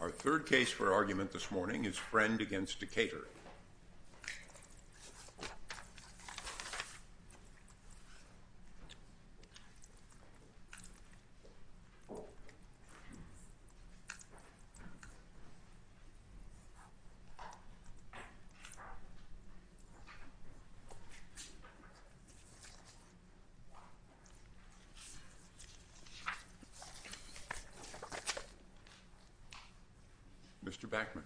Our third case for argument this morning is Friend v. Decatur. Mr. Bachman.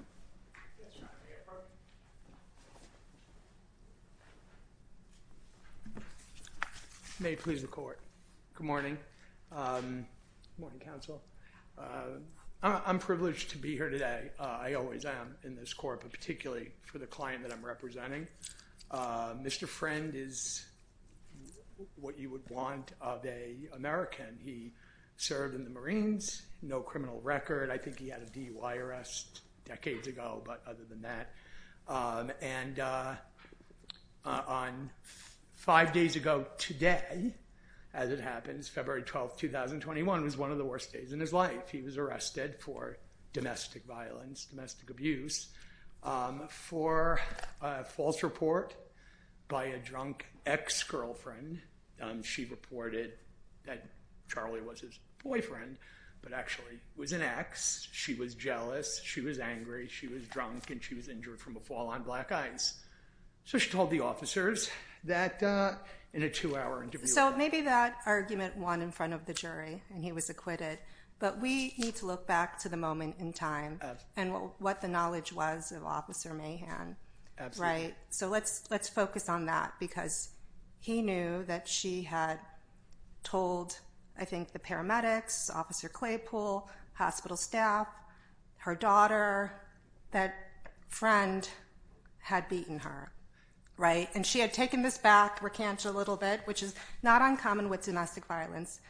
May it please the court. Good morning. Good morning, counsel. I'm privileged to be here today. I always am in this court, but particularly for the client that I'm representing. Mr. Friend is what you would want of an American. He served in the Marines. No criminal record. I think he had a DUI arrest decades ago, but other than that. And on five days ago today, as it happens, February 12th, 2021, was one of the worst days in his life. He was arrested for domestic violence, domestic abuse for a false report by a drunk ex-girlfriend. She reported that Charlie was his boyfriend, but actually was an ex. She was jealous. She was angry. She was drunk and she was injured from a fall on black ice. So she told the officers that in a two hour interview. So maybe that argument won in front of the jury and he was acquitted. But we need to look back to the moment in time and what the knowledge was of Officer Mahan. So let's let's focus on that, because he knew that she had told, I think, the paramedics, Officer Claypool, hospital staff, her daughter, that Friend had beaten her. Right. And she had taken this back, recant a little bit, which is not uncommon with domestic violence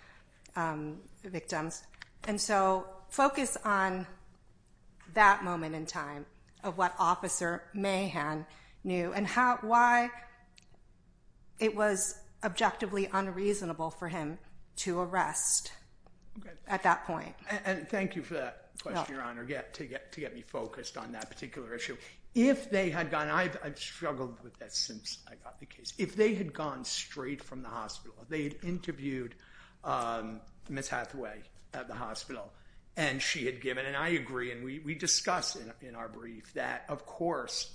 victims. And so focus on that moment in time of what Officer Mahan knew and how, why it was objectively unreasonable for him to arrest at that point. And thank you for that question, Your Honor, to get to get me focused on that particular issue. If they had gone, and I've struggled with this since I got the case, if they had gone straight from the hospital, if they had interviewed Miss Hathaway at the hospital and she had given, and I agree, and we discuss in our brief that, of course,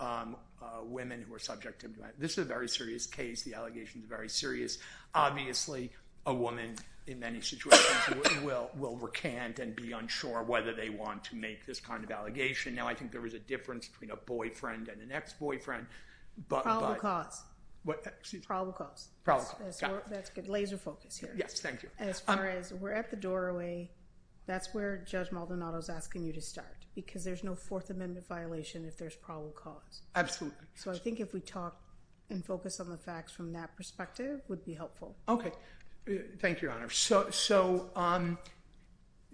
women who are subject to, this is a very serious case. The allegations are very serious. Obviously, a woman in many situations will recant and be unsure whether they want to make this kind of allegation. Now, I think there is a difference between a boyfriend and an ex-boyfriend, but... Probable cause. What? Probable cause. Probable cause. That's good. Laser focus here. Yes, thank you. As far as we're at the doorway, that's where Judge Maldonado is asking you to start, because there's no Fourth Amendment violation if there's probable cause. Absolutely. So I think if we talk and focus on the facts from that perspective would be helpful. Okay. Thank you, Your Honor. So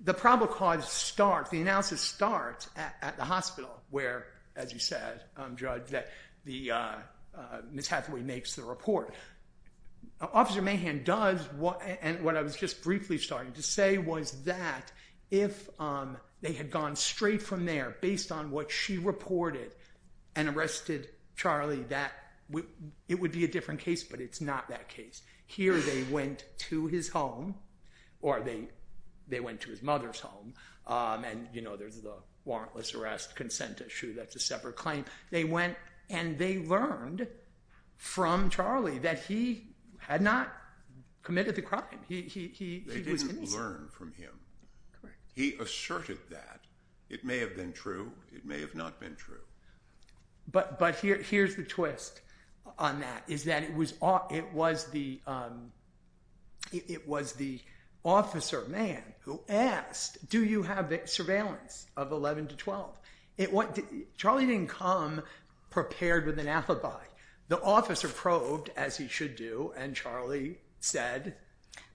the probable cause starts, the analysis starts at the hospital where, as you said, Judge, that Miss Hathaway makes the report. Officer Mahan does, and what I was just briefly starting to say was that if they had gone straight from there based on what she reported and arrested Charlie, that it would be a different case, but it's not that case. Here they went to his home, or they went to his mother's home, and there's the warrantless arrest consent issue. That's a separate claim. They went and they learned from Charlie that he had not committed the crime. He was innocent. They didn't learn from him. Correct. He asserted that. It may have been true. It may have not been true. But here's the twist on that, is that it was the officer, Mahan, who asked, do you have surveillance of 11 to 12? Charlie didn't come prepared with an alibi. The officer probed, as he should do, and Charlie said,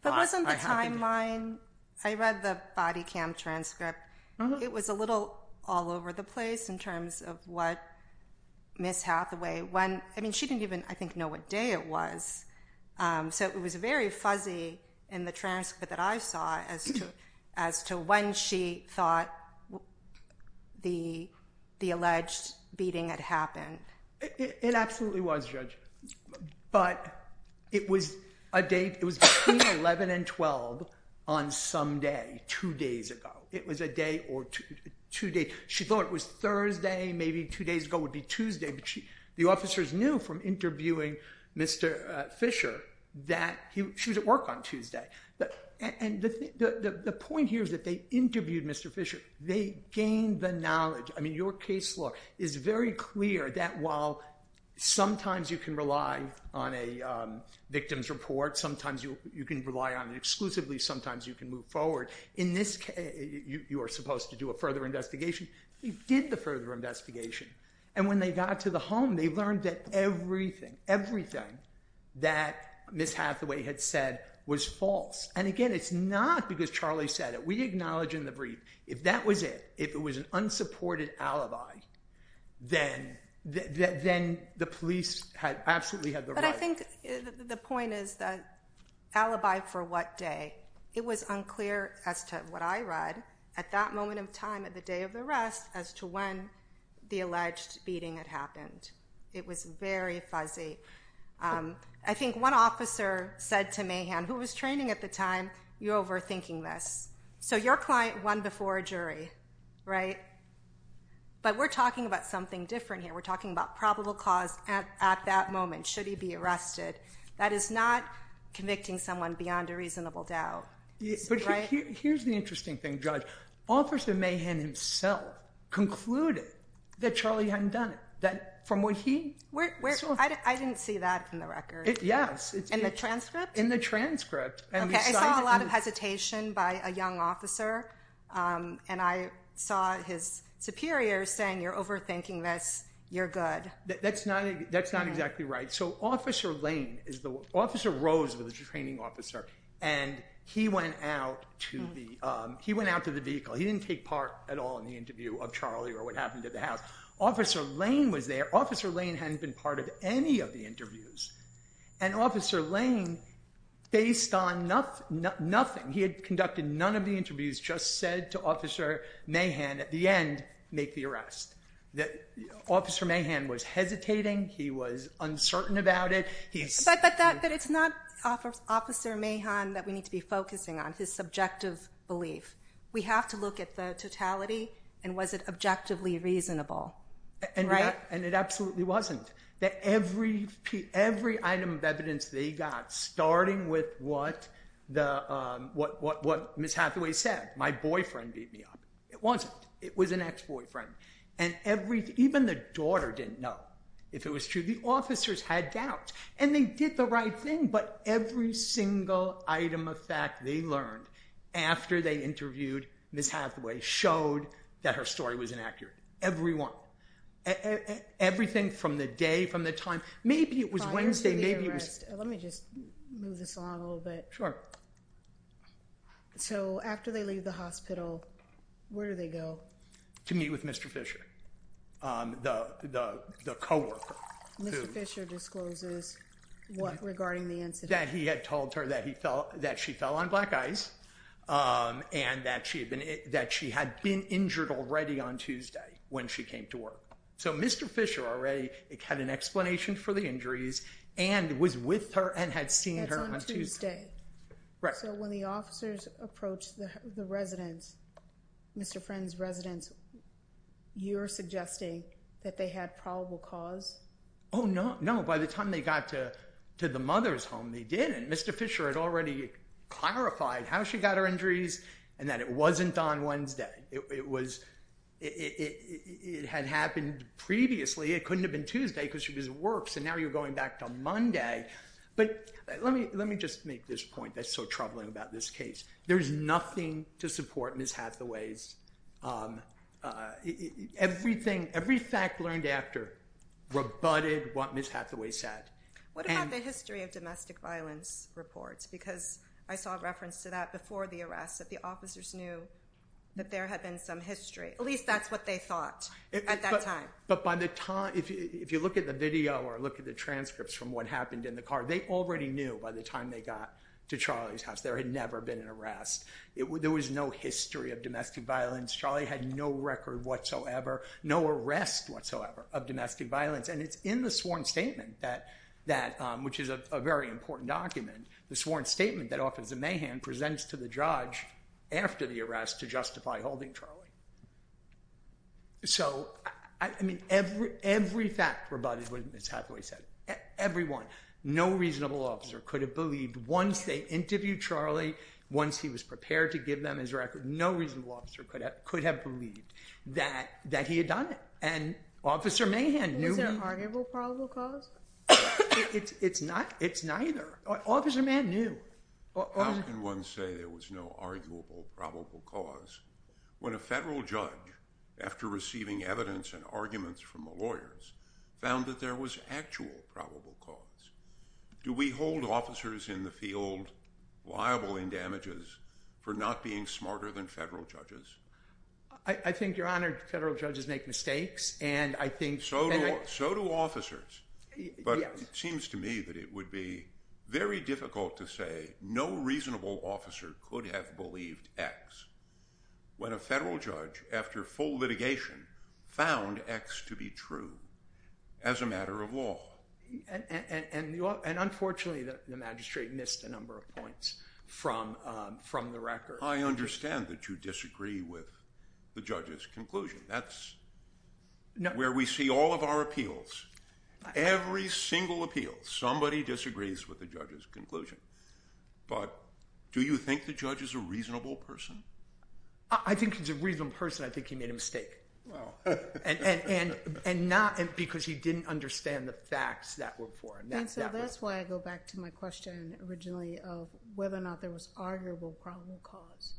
But wasn't the timeline, I read the body cam transcript, it was a little all over the place in terms of what Ms. Hathaway, I mean, she didn't even, I think, know what day it was, so it was very fuzzy in the transcript that I saw as to when she thought the alleged beating had happened. It absolutely was, Judge, but it was between 11 and 12 on some day, two days ago. It was a day or two days. She thought it was Thursday, maybe two days ago would be Tuesday, but the officers knew from interviewing Mr. Fisher that she was at work on Tuesday. And the point here is that they interviewed Mr. Fisher. They gained the knowledge. I mean, your case law is very clear that while sometimes you can rely on a victim's report, sometimes you can rely on it exclusively, sometimes you can move forward. In this case, you are supposed to do a further investigation. They did the further investigation, and when they got to the home, they learned that everything, everything that Ms. Hathaway had said was false. And again, it's not because Charlie said it. We acknowledge in the brief if that was it, if it was an unsupported alibi, then the police absolutely had the right. But I think the point is the alibi for what day. It was unclear as to what I read at that moment of time at the day of the arrest as to when the alleged beating had happened. It was very fuzzy. I think one officer said to Mahan, who was training at the time, you're overthinking this. So your client won before a jury, right? But we're talking about something different here. We're talking about probable cause at that moment. Should he be arrested? That is not convicting someone beyond a reasonable doubt. But here's the interesting thing, Judge. Officer Mahan himself concluded that Charlie hadn't done it, that from what he saw. I didn't see that in the record. Yes. In the transcript? In the transcript. Okay. I saw a lot of hesitation by a young officer, and I saw his superior saying you're overthinking this, you're good. That's not exactly right. So Officer Lane, Officer Rose was the training officer, and he went out to the vehicle. He didn't take part at all in the interview of Charlie or what happened at the house. Officer Lane was there. Officer Lane hadn't been part of any of the interviews. And Officer Lane, based on nothing, he had conducted none of the interviews, just said to Officer Mahan at the end, make the arrest. Officer Mahan was hesitating. He was uncertain about it. But it's not Officer Mahan that we need to be focusing on, his subjective belief. We have to look at the totality and was it objectively reasonable, right? And it absolutely wasn't. Every item of evidence they got, starting with what Ms. Hathaway said, my boyfriend beat me up. It wasn't. It was an ex-boyfriend. And even the daughter didn't know. If it was true, the officers had doubts. And they did the right thing. But every single item of fact they learned after they interviewed Ms. Hathaway showed that her story was inaccurate. Every one. Everything from the day, from the time. Maybe it was Wednesday. Let me just move this along a little bit. Sure. So after they leave the hospital, where do they go? To meet with Mr. Fisher, the coworker. Mr. Fisher discloses what regarding the incident. That he had told her that she fell on black ice and that she had been injured already on Tuesday when she came to work. So Mr. Fisher already had an explanation for the injuries and was with her and had seen her on Tuesday. So when the officers approached the residence, Mr. Friend's residence, you're suggesting that they had probable cause? Oh, no. By the time they got to the mother's home, they didn't. Mr. Fisher had already clarified how she got her injuries and that it wasn't on Wednesday. It had happened previously. It couldn't have been Tuesday because she was at work. So now you're going back to Monday. But let me just make this point that's so troubling about this case. There's nothing to support Ms. Hathaway's. Everything, every fact learned after rebutted what Ms. Hathaway said. What about the history of domestic violence reports? Because I saw a reference to that before the arrest, that the officers knew that there had been some history. At least that's what they thought at that time. But by the time, if you look at the video or look at the transcripts from what happened in the car, they already knew by the time they got to Charlie's house there had never been an arrest. There was no history of domestic violence. Charlie had no record whatsoever, no arrest whatsoever of domestic violence. And it's in the sworn statement, which is a very important document, the sworn statement that Officer Mahan presents to the judge after the arrest to justify holding Charlie. So, I mean, every fact rebutted what Ms. Hathaway said. Everyone, no reasonable officer could have believed once they interviewed Charlie, once he was prepared to give them his record, no reasonable officer could have believed that he had done it. And Officer Mahan knew. Was there an arguable probable cause? It's neither. Officer Mahan knew. How can one say there was no arguable probable cause when a federal judge, after receiving evidence and arguments from the lawyers, found that there was actual probable cause? Do we hold officers in the field liable in damages for not being smarter than federal judges? I think, Your Honor, federal judges make mistakes, and I think... So do officers. But it seems to me that it would be very difficult to say that no reasonable officer could have believed X when a federal judge, after full litigation, found X to be true as a matter of law. And, unfortunately, the magistrate missed a number of points from the record. I understand that you disagree with the judge's conclusion. That's where we see all of our appeals. Every single appeal, somebody disagrees with the judge's conclusion. But do you think the judge is a reasonable person? I think he's a reasonable person. I think he made a mistake. And not because he didn't understand the facts that were before him. And so that's why I go back to my question originally of whether or not there was arguable probable cause.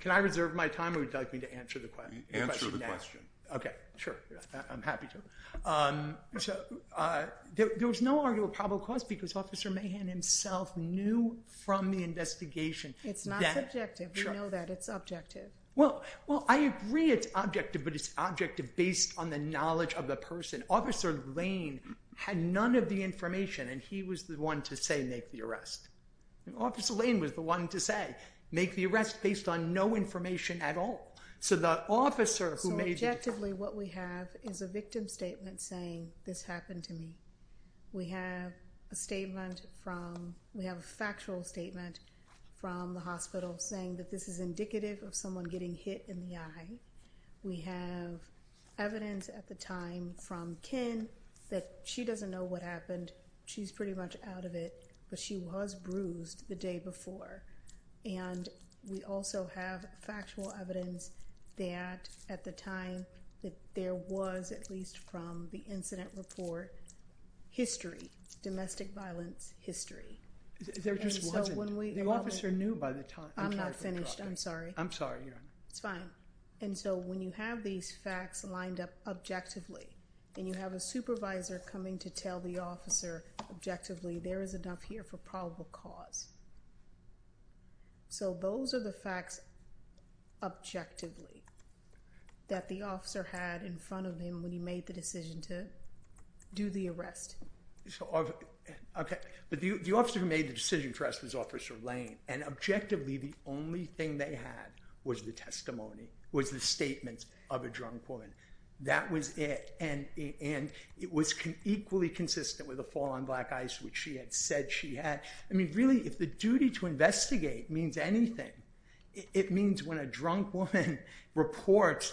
Can I reserve my time, or would you like me to answer the question now? Answer the question. Okay, sure. I'm happy to. There was no arguable probable cause because Officer Mahan himself knew from the investigation that... It's not subjective. We know that. It's objective. Well, I agree it's objective, but it's objective based on the knowledge of the person. Officer Lane had none of the information, and he was the one to say, make the arrest. Officer Lane was the one to say, make the arrest based on no information at all. So objectively what we have is a victim statement saying, this happened to me. We have a factual statement from the hospital saying that this is indicative of someone getting hit in the eye. We have evidence at the time from Ken that she doesn't know what happened. She's pretty much out of it, but she was bruised the day before. And we also have factual evidence that at the time that there was, at least from the incident report, history, domestic violence history. There just wasn't. The officer knew by the time... I'm not finished. I'm sorry. I'm sorry, Your Honor. It's fine. And so when you have these facts lined up objectively and you have a supervisor coming to tell the officer objectively, there is enough here for probable cause. So those are the facts objectively that the officer had in front of him when he made the decision to do the arrest. But the officer who made the decision to arrest was Officer Lane, and objectively the only thing they had was the testimony, was the statements of a drunk woman. That was it. And it was equally consistent with the fall on Black Ice, which she had said she had. I mean, really, if the duty to investigate means anything, it means when a drunk woman reports,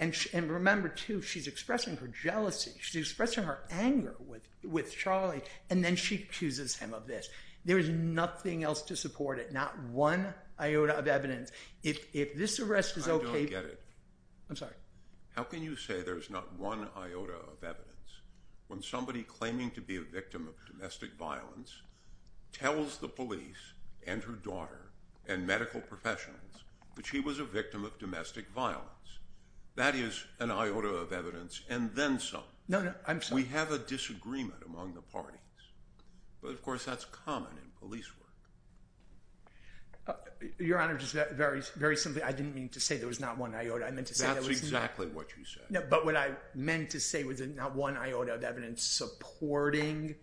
and remember, too, she's expressing her jealousy, she's expressing her anger with Charlie, and then she accuses him of this. There is nothing else to support it. Not one iota of evidence. If this arrest is okay... I don't get it. I'm sorry. How can you say there's not one iota of evidence when somebody claiming to be a victim of domestic violence tells the police and her daughter and medical professionals that she was a victim of domestic violence? That is an iota of evidence, and then some. No, no, I'm sorry. We have a disagreement among the parties, but, of course, that's common in police work. Your Honor, just very simply, I didn't mean to say there was not one iota. That's exactly what you said. No, but what I meant to say was there's not one iota of evidence supporting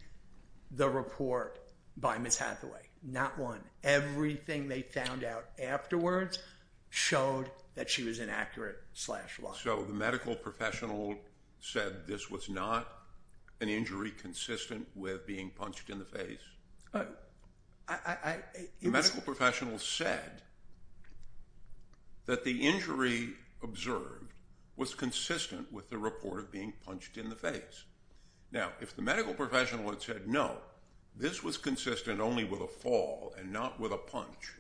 the report by Ms. Hathaway. Not one. Everything they found out afterwards showed that she was an accurate slasher. So the medical professional said this was not an injury consistent with being punched in the face? The medical professional said that the injury observed was consistent with the report of being punched in the face. Now, if the medical professional had said, no, this was consistent only with a fall and not with a punch,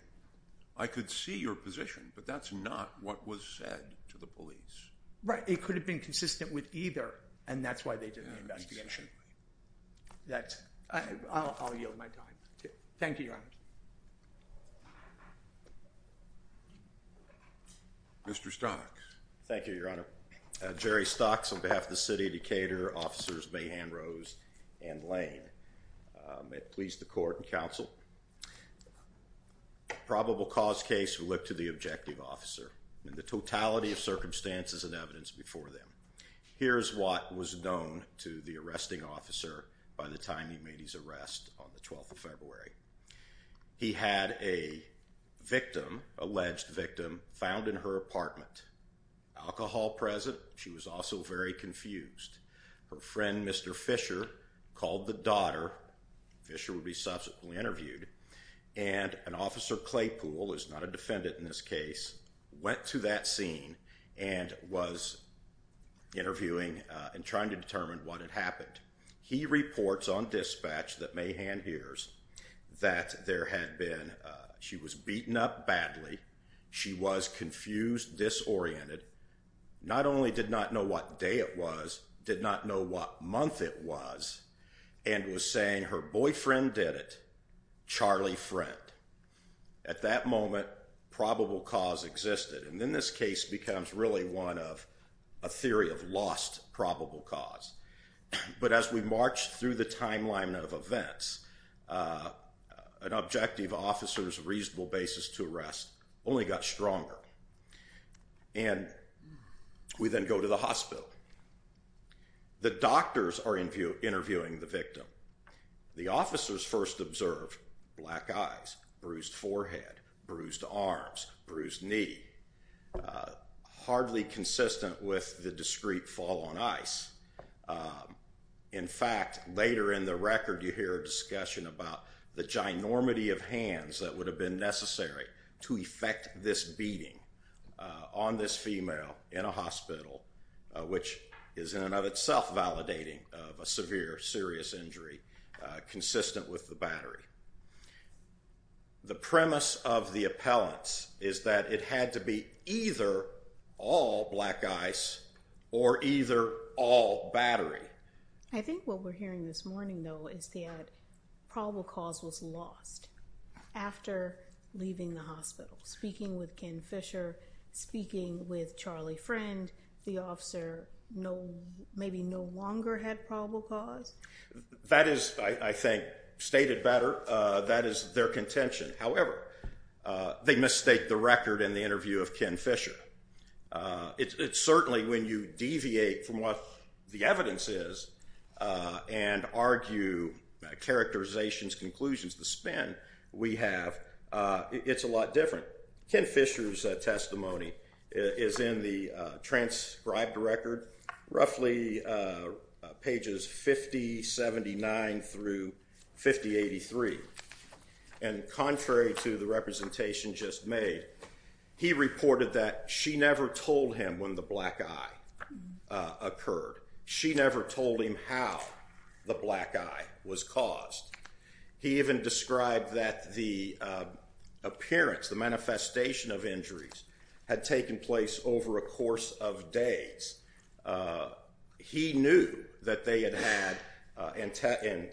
I could see your position, but that's not what was said to the police. Right. It could have been consistent with either, and that's why they did the investigation. I'll yield my time. Thank you, Your Honor. Mr. Stocks. Thank you, Your Honor. Jerry Stocks on behalf of the City of Decatur, Officers Mahan, Rose, and Lane. It pleased the court and counsel. Probable cause case, we look to the objective officer and the totality of circumstances and evidence before them. Here is what was known to the arresting officer by the time he made his arrest on the 12th of February. He had a victim, alleged victim, found in her apartment. Alcohol present. She was also very confused. Her friend, Mr. Fisher, called the daughter. Fisher would be subsequently interviewed. And an officer, Claypool, who is not a defendant in this case, went to that scene and was interviewing and trying to determine what had happened. He reports on dispatch that Mahan hears that there had been, she was beaten up badly, she was confused, disoriented, not only did not know what day it was, did not know what month it was, and was saying her boyfriend did it, Charlie Friend. At that moment, probable cause existed. And then this case becomes really one of a theory of lost probable cause. But as we marched through the timeline of events, an objective officer's reasonable basis to arrest only got stronger. And we then go to the hospital. The doctors are interviewing the victim. The officers first observe black eyes, bruised forehead, bruised arms, bruised knee, hardly consistent with the discreet fall on ice. In fact, later in the record you hear a discussion about the ginormity of hands that would have been necessary to effect this beating on this female in a hospital, which is in and of itself validating of a severe, serious injury consistent with the battery. The premise of the appellants is that it had to be either all black eyes or either all battery. I think what we're hearing this morning, though, is that probable cause was lost after leaving the hospital, speaking with Ken Fisher, speaking with Charlie Friend, the officer maybe no longer had probable cause. That is, I think, stated better. That is their contention. However, they misstate the record in the interview of Ken Fisher. It's certainly when you deviate from what the evidence is and argue characterizations, conclusions, the spin we have, it's a lot different. Ken Fisher's testimony is in the transcribed record, roughly pages 5079 through 5083, and contrary to the representation just made, he reported that she never told him when the black eye occurred. She never told him how the black eye was caused. He even described that the appearance, the manifestation of injuries, had taken place over a course of days. He knew that they had had,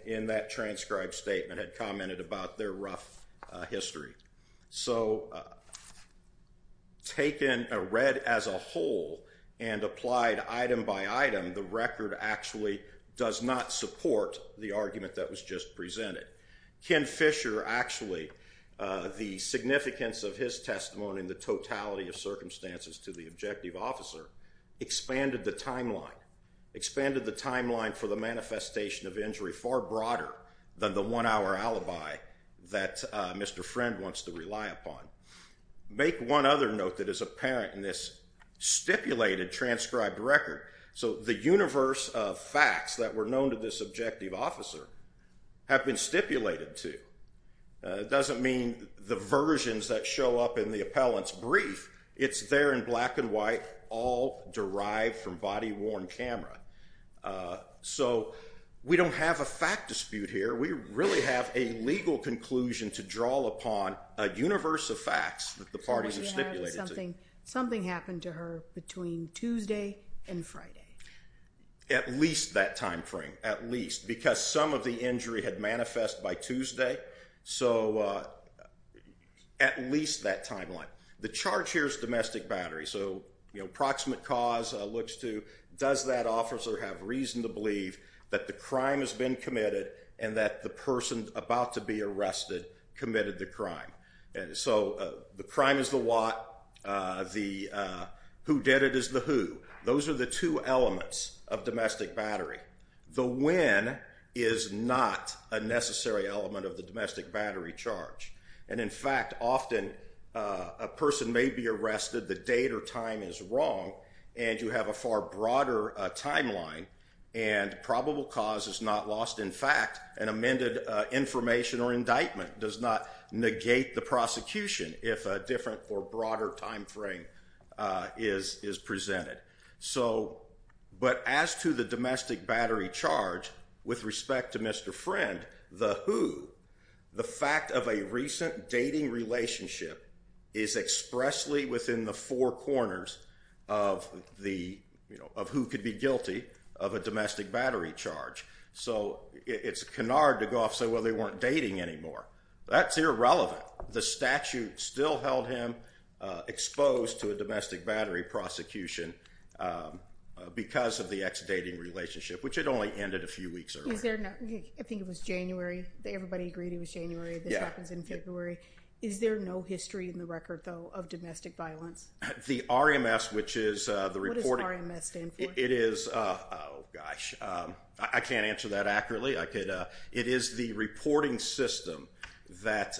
in that transcribed statement, had commented about their rough history. So taken red as a whole and applied item by item, the record actually does not support the argument that was just presented. Ken Fisher actually, the significance of his testimony in the totality of circumstances to the objective officer, expanded the timeline. Expanded the timeline for the manifestation of injury far broader than the one-hour alibi that Mr. Friend wants to rely upon. Make one other note that is apparent in this stipulated transcribed record. So the universe of facts that were known to this objective officer have been stipulated to. It doesn't mean the versions that show up in the appellant's brief. It's there in black and white, all derived from body-worn camera. So we don't have a fact dispute here. We really have a legal conclusion to draw upon a universe of facts that the parties have stipulated to. Something happened to her between Tuesday and Friday. At least that time frame, at least, because some of the injury had manifest by Tuesday. So at least that timeline. The charge here is domestic battery. So proximate cause looks to, does that officer have reason to believe that the crime has been committed and that the person about to be arrested committed the crime? So the crime is the what. The who did it is the who. Those are the two elements of domestic battery. The when is not a necessary element of the domestic battery charge. And in fact, often a person may be arrested, the date or time is wrong, and you have a far broader timeline and probable cause is not lost. In fact, an amended information or indictment does not negate the prosecution if a different or broader time frame is presented. But as to the domestic battery charge, with respect to Mr. Friend, the who, the fact of a recent dating relationship is expressly within the four corners of who could be guilty of a domestic battery charge. So it's canard to go off and say, well, they weren't dating anymore. That's irrelevant. The statute still held him exposed to a domestic battery prosecution because of the ex-dating relationship, which had only ended a few weeks earlier. I think it was January. Everybody agreed it was January. This happens in February. Is there no history in the record, though, of domestic violence? The RMS, which is the reporting... What does RMS stand for? It is... Oh, gosh. I can't answer that accurately. It is the reporting system that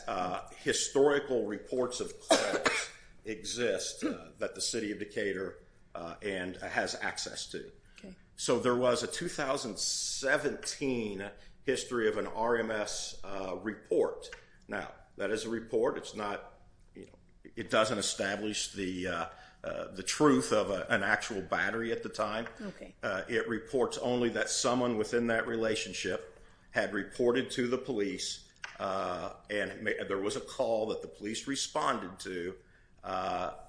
historical reports of claims exist that the city of Decatur has access to. So there was a 2017 history of an RMS report. Now, that is a report. It's not... It doesn't establish the truth of an actual battery at the time. It reports only that someone within that relationship had reported to the police, and there was a call that the police responded to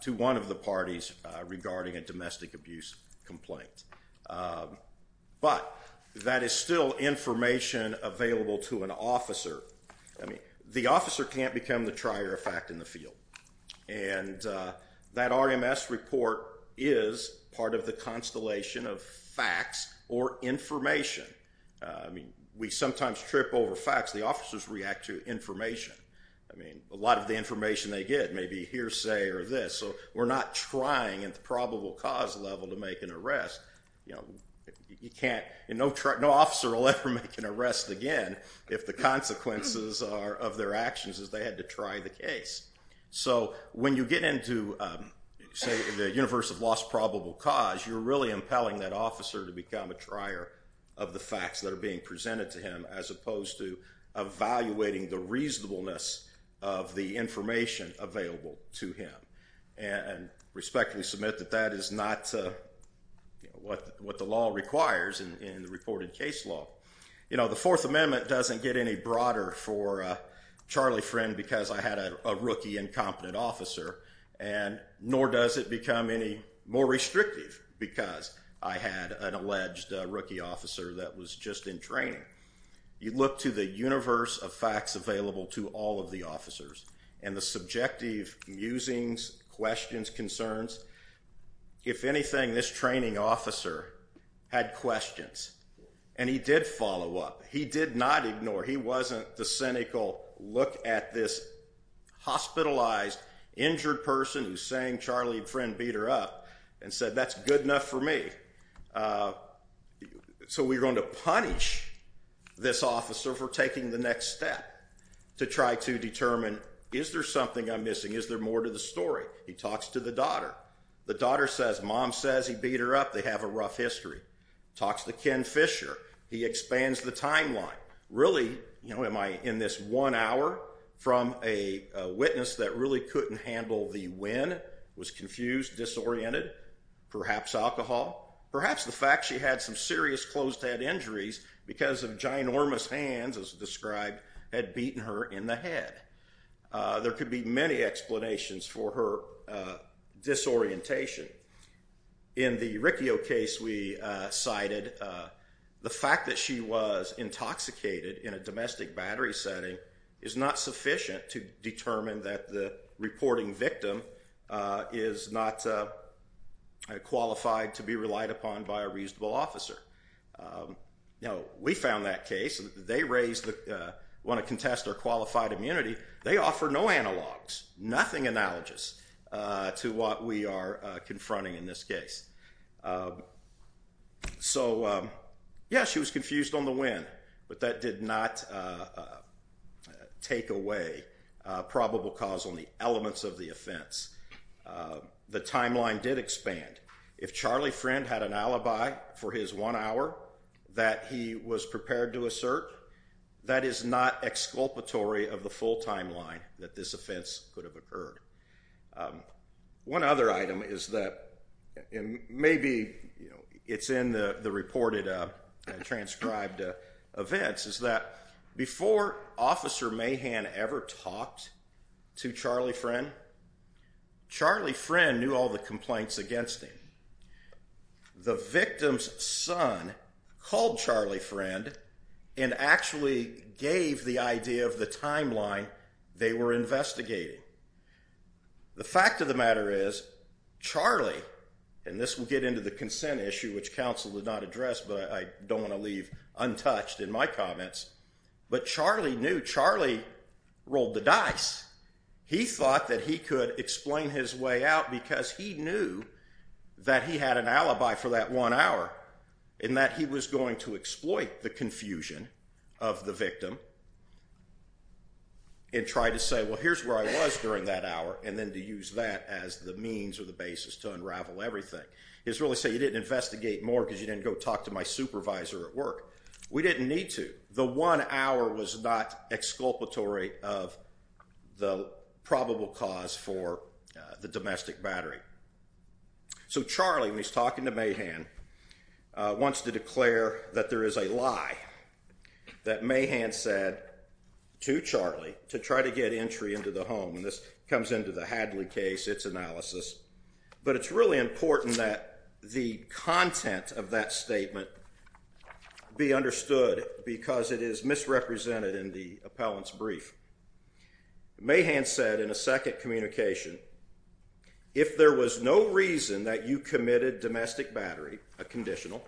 to one of the parties regarding a domestic abuse complaint. But that is still information available to an officer. I mean, the officer can't become the trier of fact in the field. And that RMS report is part of the constellation of facts or information. I mean, we sometimes trip over facts. The officers react to information. I mean, a lot of the information they get may be hearsay or this. So we're not trying, at the probable cause level, to make an arrest. You can't... No officer will ever make an arrest again if the consequences of their actions is they had to try the case. So when you get into, say, the universe of lost probable cause, you're really impelling that officer to become a trier of the facts that are being presented to him as opposed to evaluating the reasonableness of the information available to him. And respectfully submit that that is not what the law requires in the reported case law. You know, the Fourth Amendment doesn't get any broader for Charlie Friend because I had a rookie, incompetent officer, nor does it become any more restrictive because I had an alleged rookie officer that was just in training. You look to the universe of facts available to all of the officers and the subjective musings, questions, concerns. If anything, this training officer had questions, and he did follow up. He did not ignore. He wasn't the cynical, look-at-this-hospitalized-injured-person-who-sang-Charlie-Friend-beat-her-up and said, that's good enough for me. So we're going to punish this officer for taking the next step to try to determine, is there something I'm missing? Is there more to the story? He talks to the daughter. The daughter says, Mom says he beat her up. They have a rough history. Talks to Ken Fisher. He expands the timeline. Really, am I in this one hour from a witness that really couldn't handle the when, was confused, disoriented, perhaps alcohol, perhaps the fact she had some serious closed-head injuries because of ginormous hands, as described, had beaten her in the head. There could be many explanations for her disorientation. In the Riccio case we cited, the fact that she was intoxicated in a domestic battery setting is not sufficient to determine that the reporting victim is not qualified to be relied upon by a reasonable officer. We found that case. They want to contest her qualified immunity. They offer no analogues, nothing analogous to what we are confronting in this case. So, yes, she was confused on the when, but that did not take away probable cause on the elements of the offense. The timeline did expand. If Charlie Friend had an alibi for his one hour that he was prepared to assert, that is not exculpatory of the full timeline that this offense could have occurred. One other item is that, and maybe it's in the reported and transcribed events, is that before Officer Mahan ever talked to Charlie Friend, Charlie Friend knew all the complaints against him. The victim's son called Charlie Friend and actually gave the idea of the timeline they were investigating. The fact of the matter is, Charlie, and this will get into the consent issue, which counsel did not address, but I don't want to leave untouched in my comments, but Charlie knew. Charlie rolled the dice. He thought that he could explain his way out because he knew that he had an alibi for that one hour and that he was going to exploit the confusion of the victim and try to say, well, here's where I was during that hour and then to use that as the means or the basis to unravel everything. He was really saying, you didn't investigate more because you didn't go talk to my supervisor at work. We didn't need to. The one hour was not exculpatory of the probable cause for the domestic battery. So Charlie, when he's talking to Mahan, wants to declare that there is a lie that Mahan said to Charlie to try to get entry into the home, and this comes into the Hadley case, its analysis, but it's really important that the content of that statement be understood because it is misrepresented in the appellant's brief. Mahan said in a second communication, if there was no reason that you committed domestic battery, a conditional,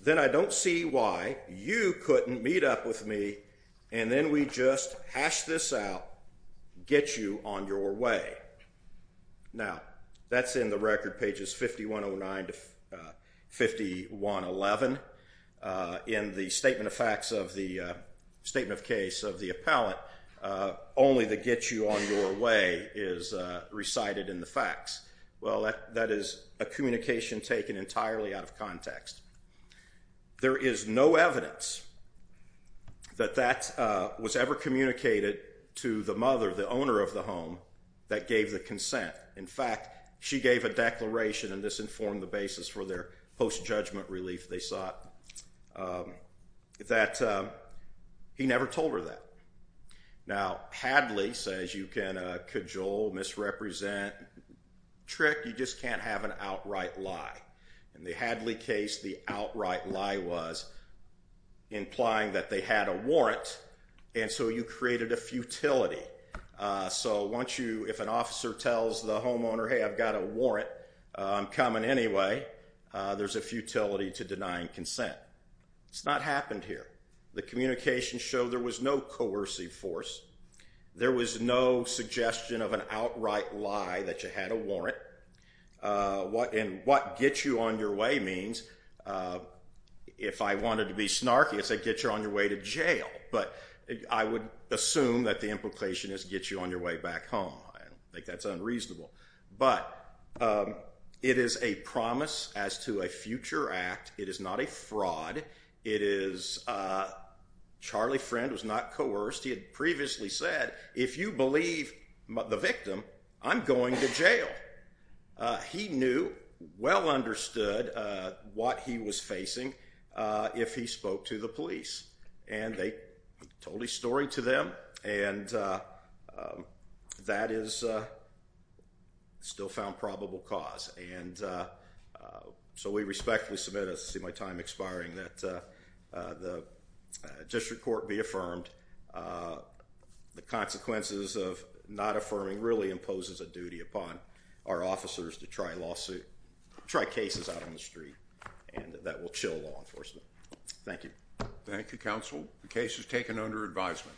then I don't see why you couldn't meet up with me and then we just hash this out, get you on your way. Now, that's in the record, pages 5109 to 5111. In the statement of facts of the statement of case of the appellant, only the get you on your way is recited in the facts. Well, that is a communication taken entirely out of context. There is no evidence that that was ever communicated to the mother, the owner of the home, that gave the consent. In fact, she gave a declaration, and this informed the basis for their post-judgment relief they sought, that he never told her that. Now, Hadley says you can cajole, misrepresent, trick, you just can't have an outright lie. In the Hadley case, the outright lie was implying that they had a warrant, and so you created a futility. So once you, if an officer tells the homeowner, hey, I've got a warrant, I'm coming anyway, there's a futility to denying consent. It's not happened here. The communications show there was no coercive force. There was no suggestion of an outright lie that you had a warrant. And what get you on your way means, if I wanted to be snarky, I'd say get you on your way to jail. But I would assume that the implication is get you on your way back home. I think that's unreasonable. But it is a promise as to a future act. It is not a fraud. Charlie Friend was not coerced. He had previously said, if you believe the victim, I'm going to jail. He knew, well understood, what he was facing if he spoke to the police. And they told his story to them, and that is still found probable cause. And so we respectfully submit, as I see my time expiring, that the district court be affirmed. The consequences of not affirming really imposes a duty upon our officers to try lawsuits, try cases out on the street, and that will chill law enforcement. Thank you. Thank you, counsel. The case is taken under advisement.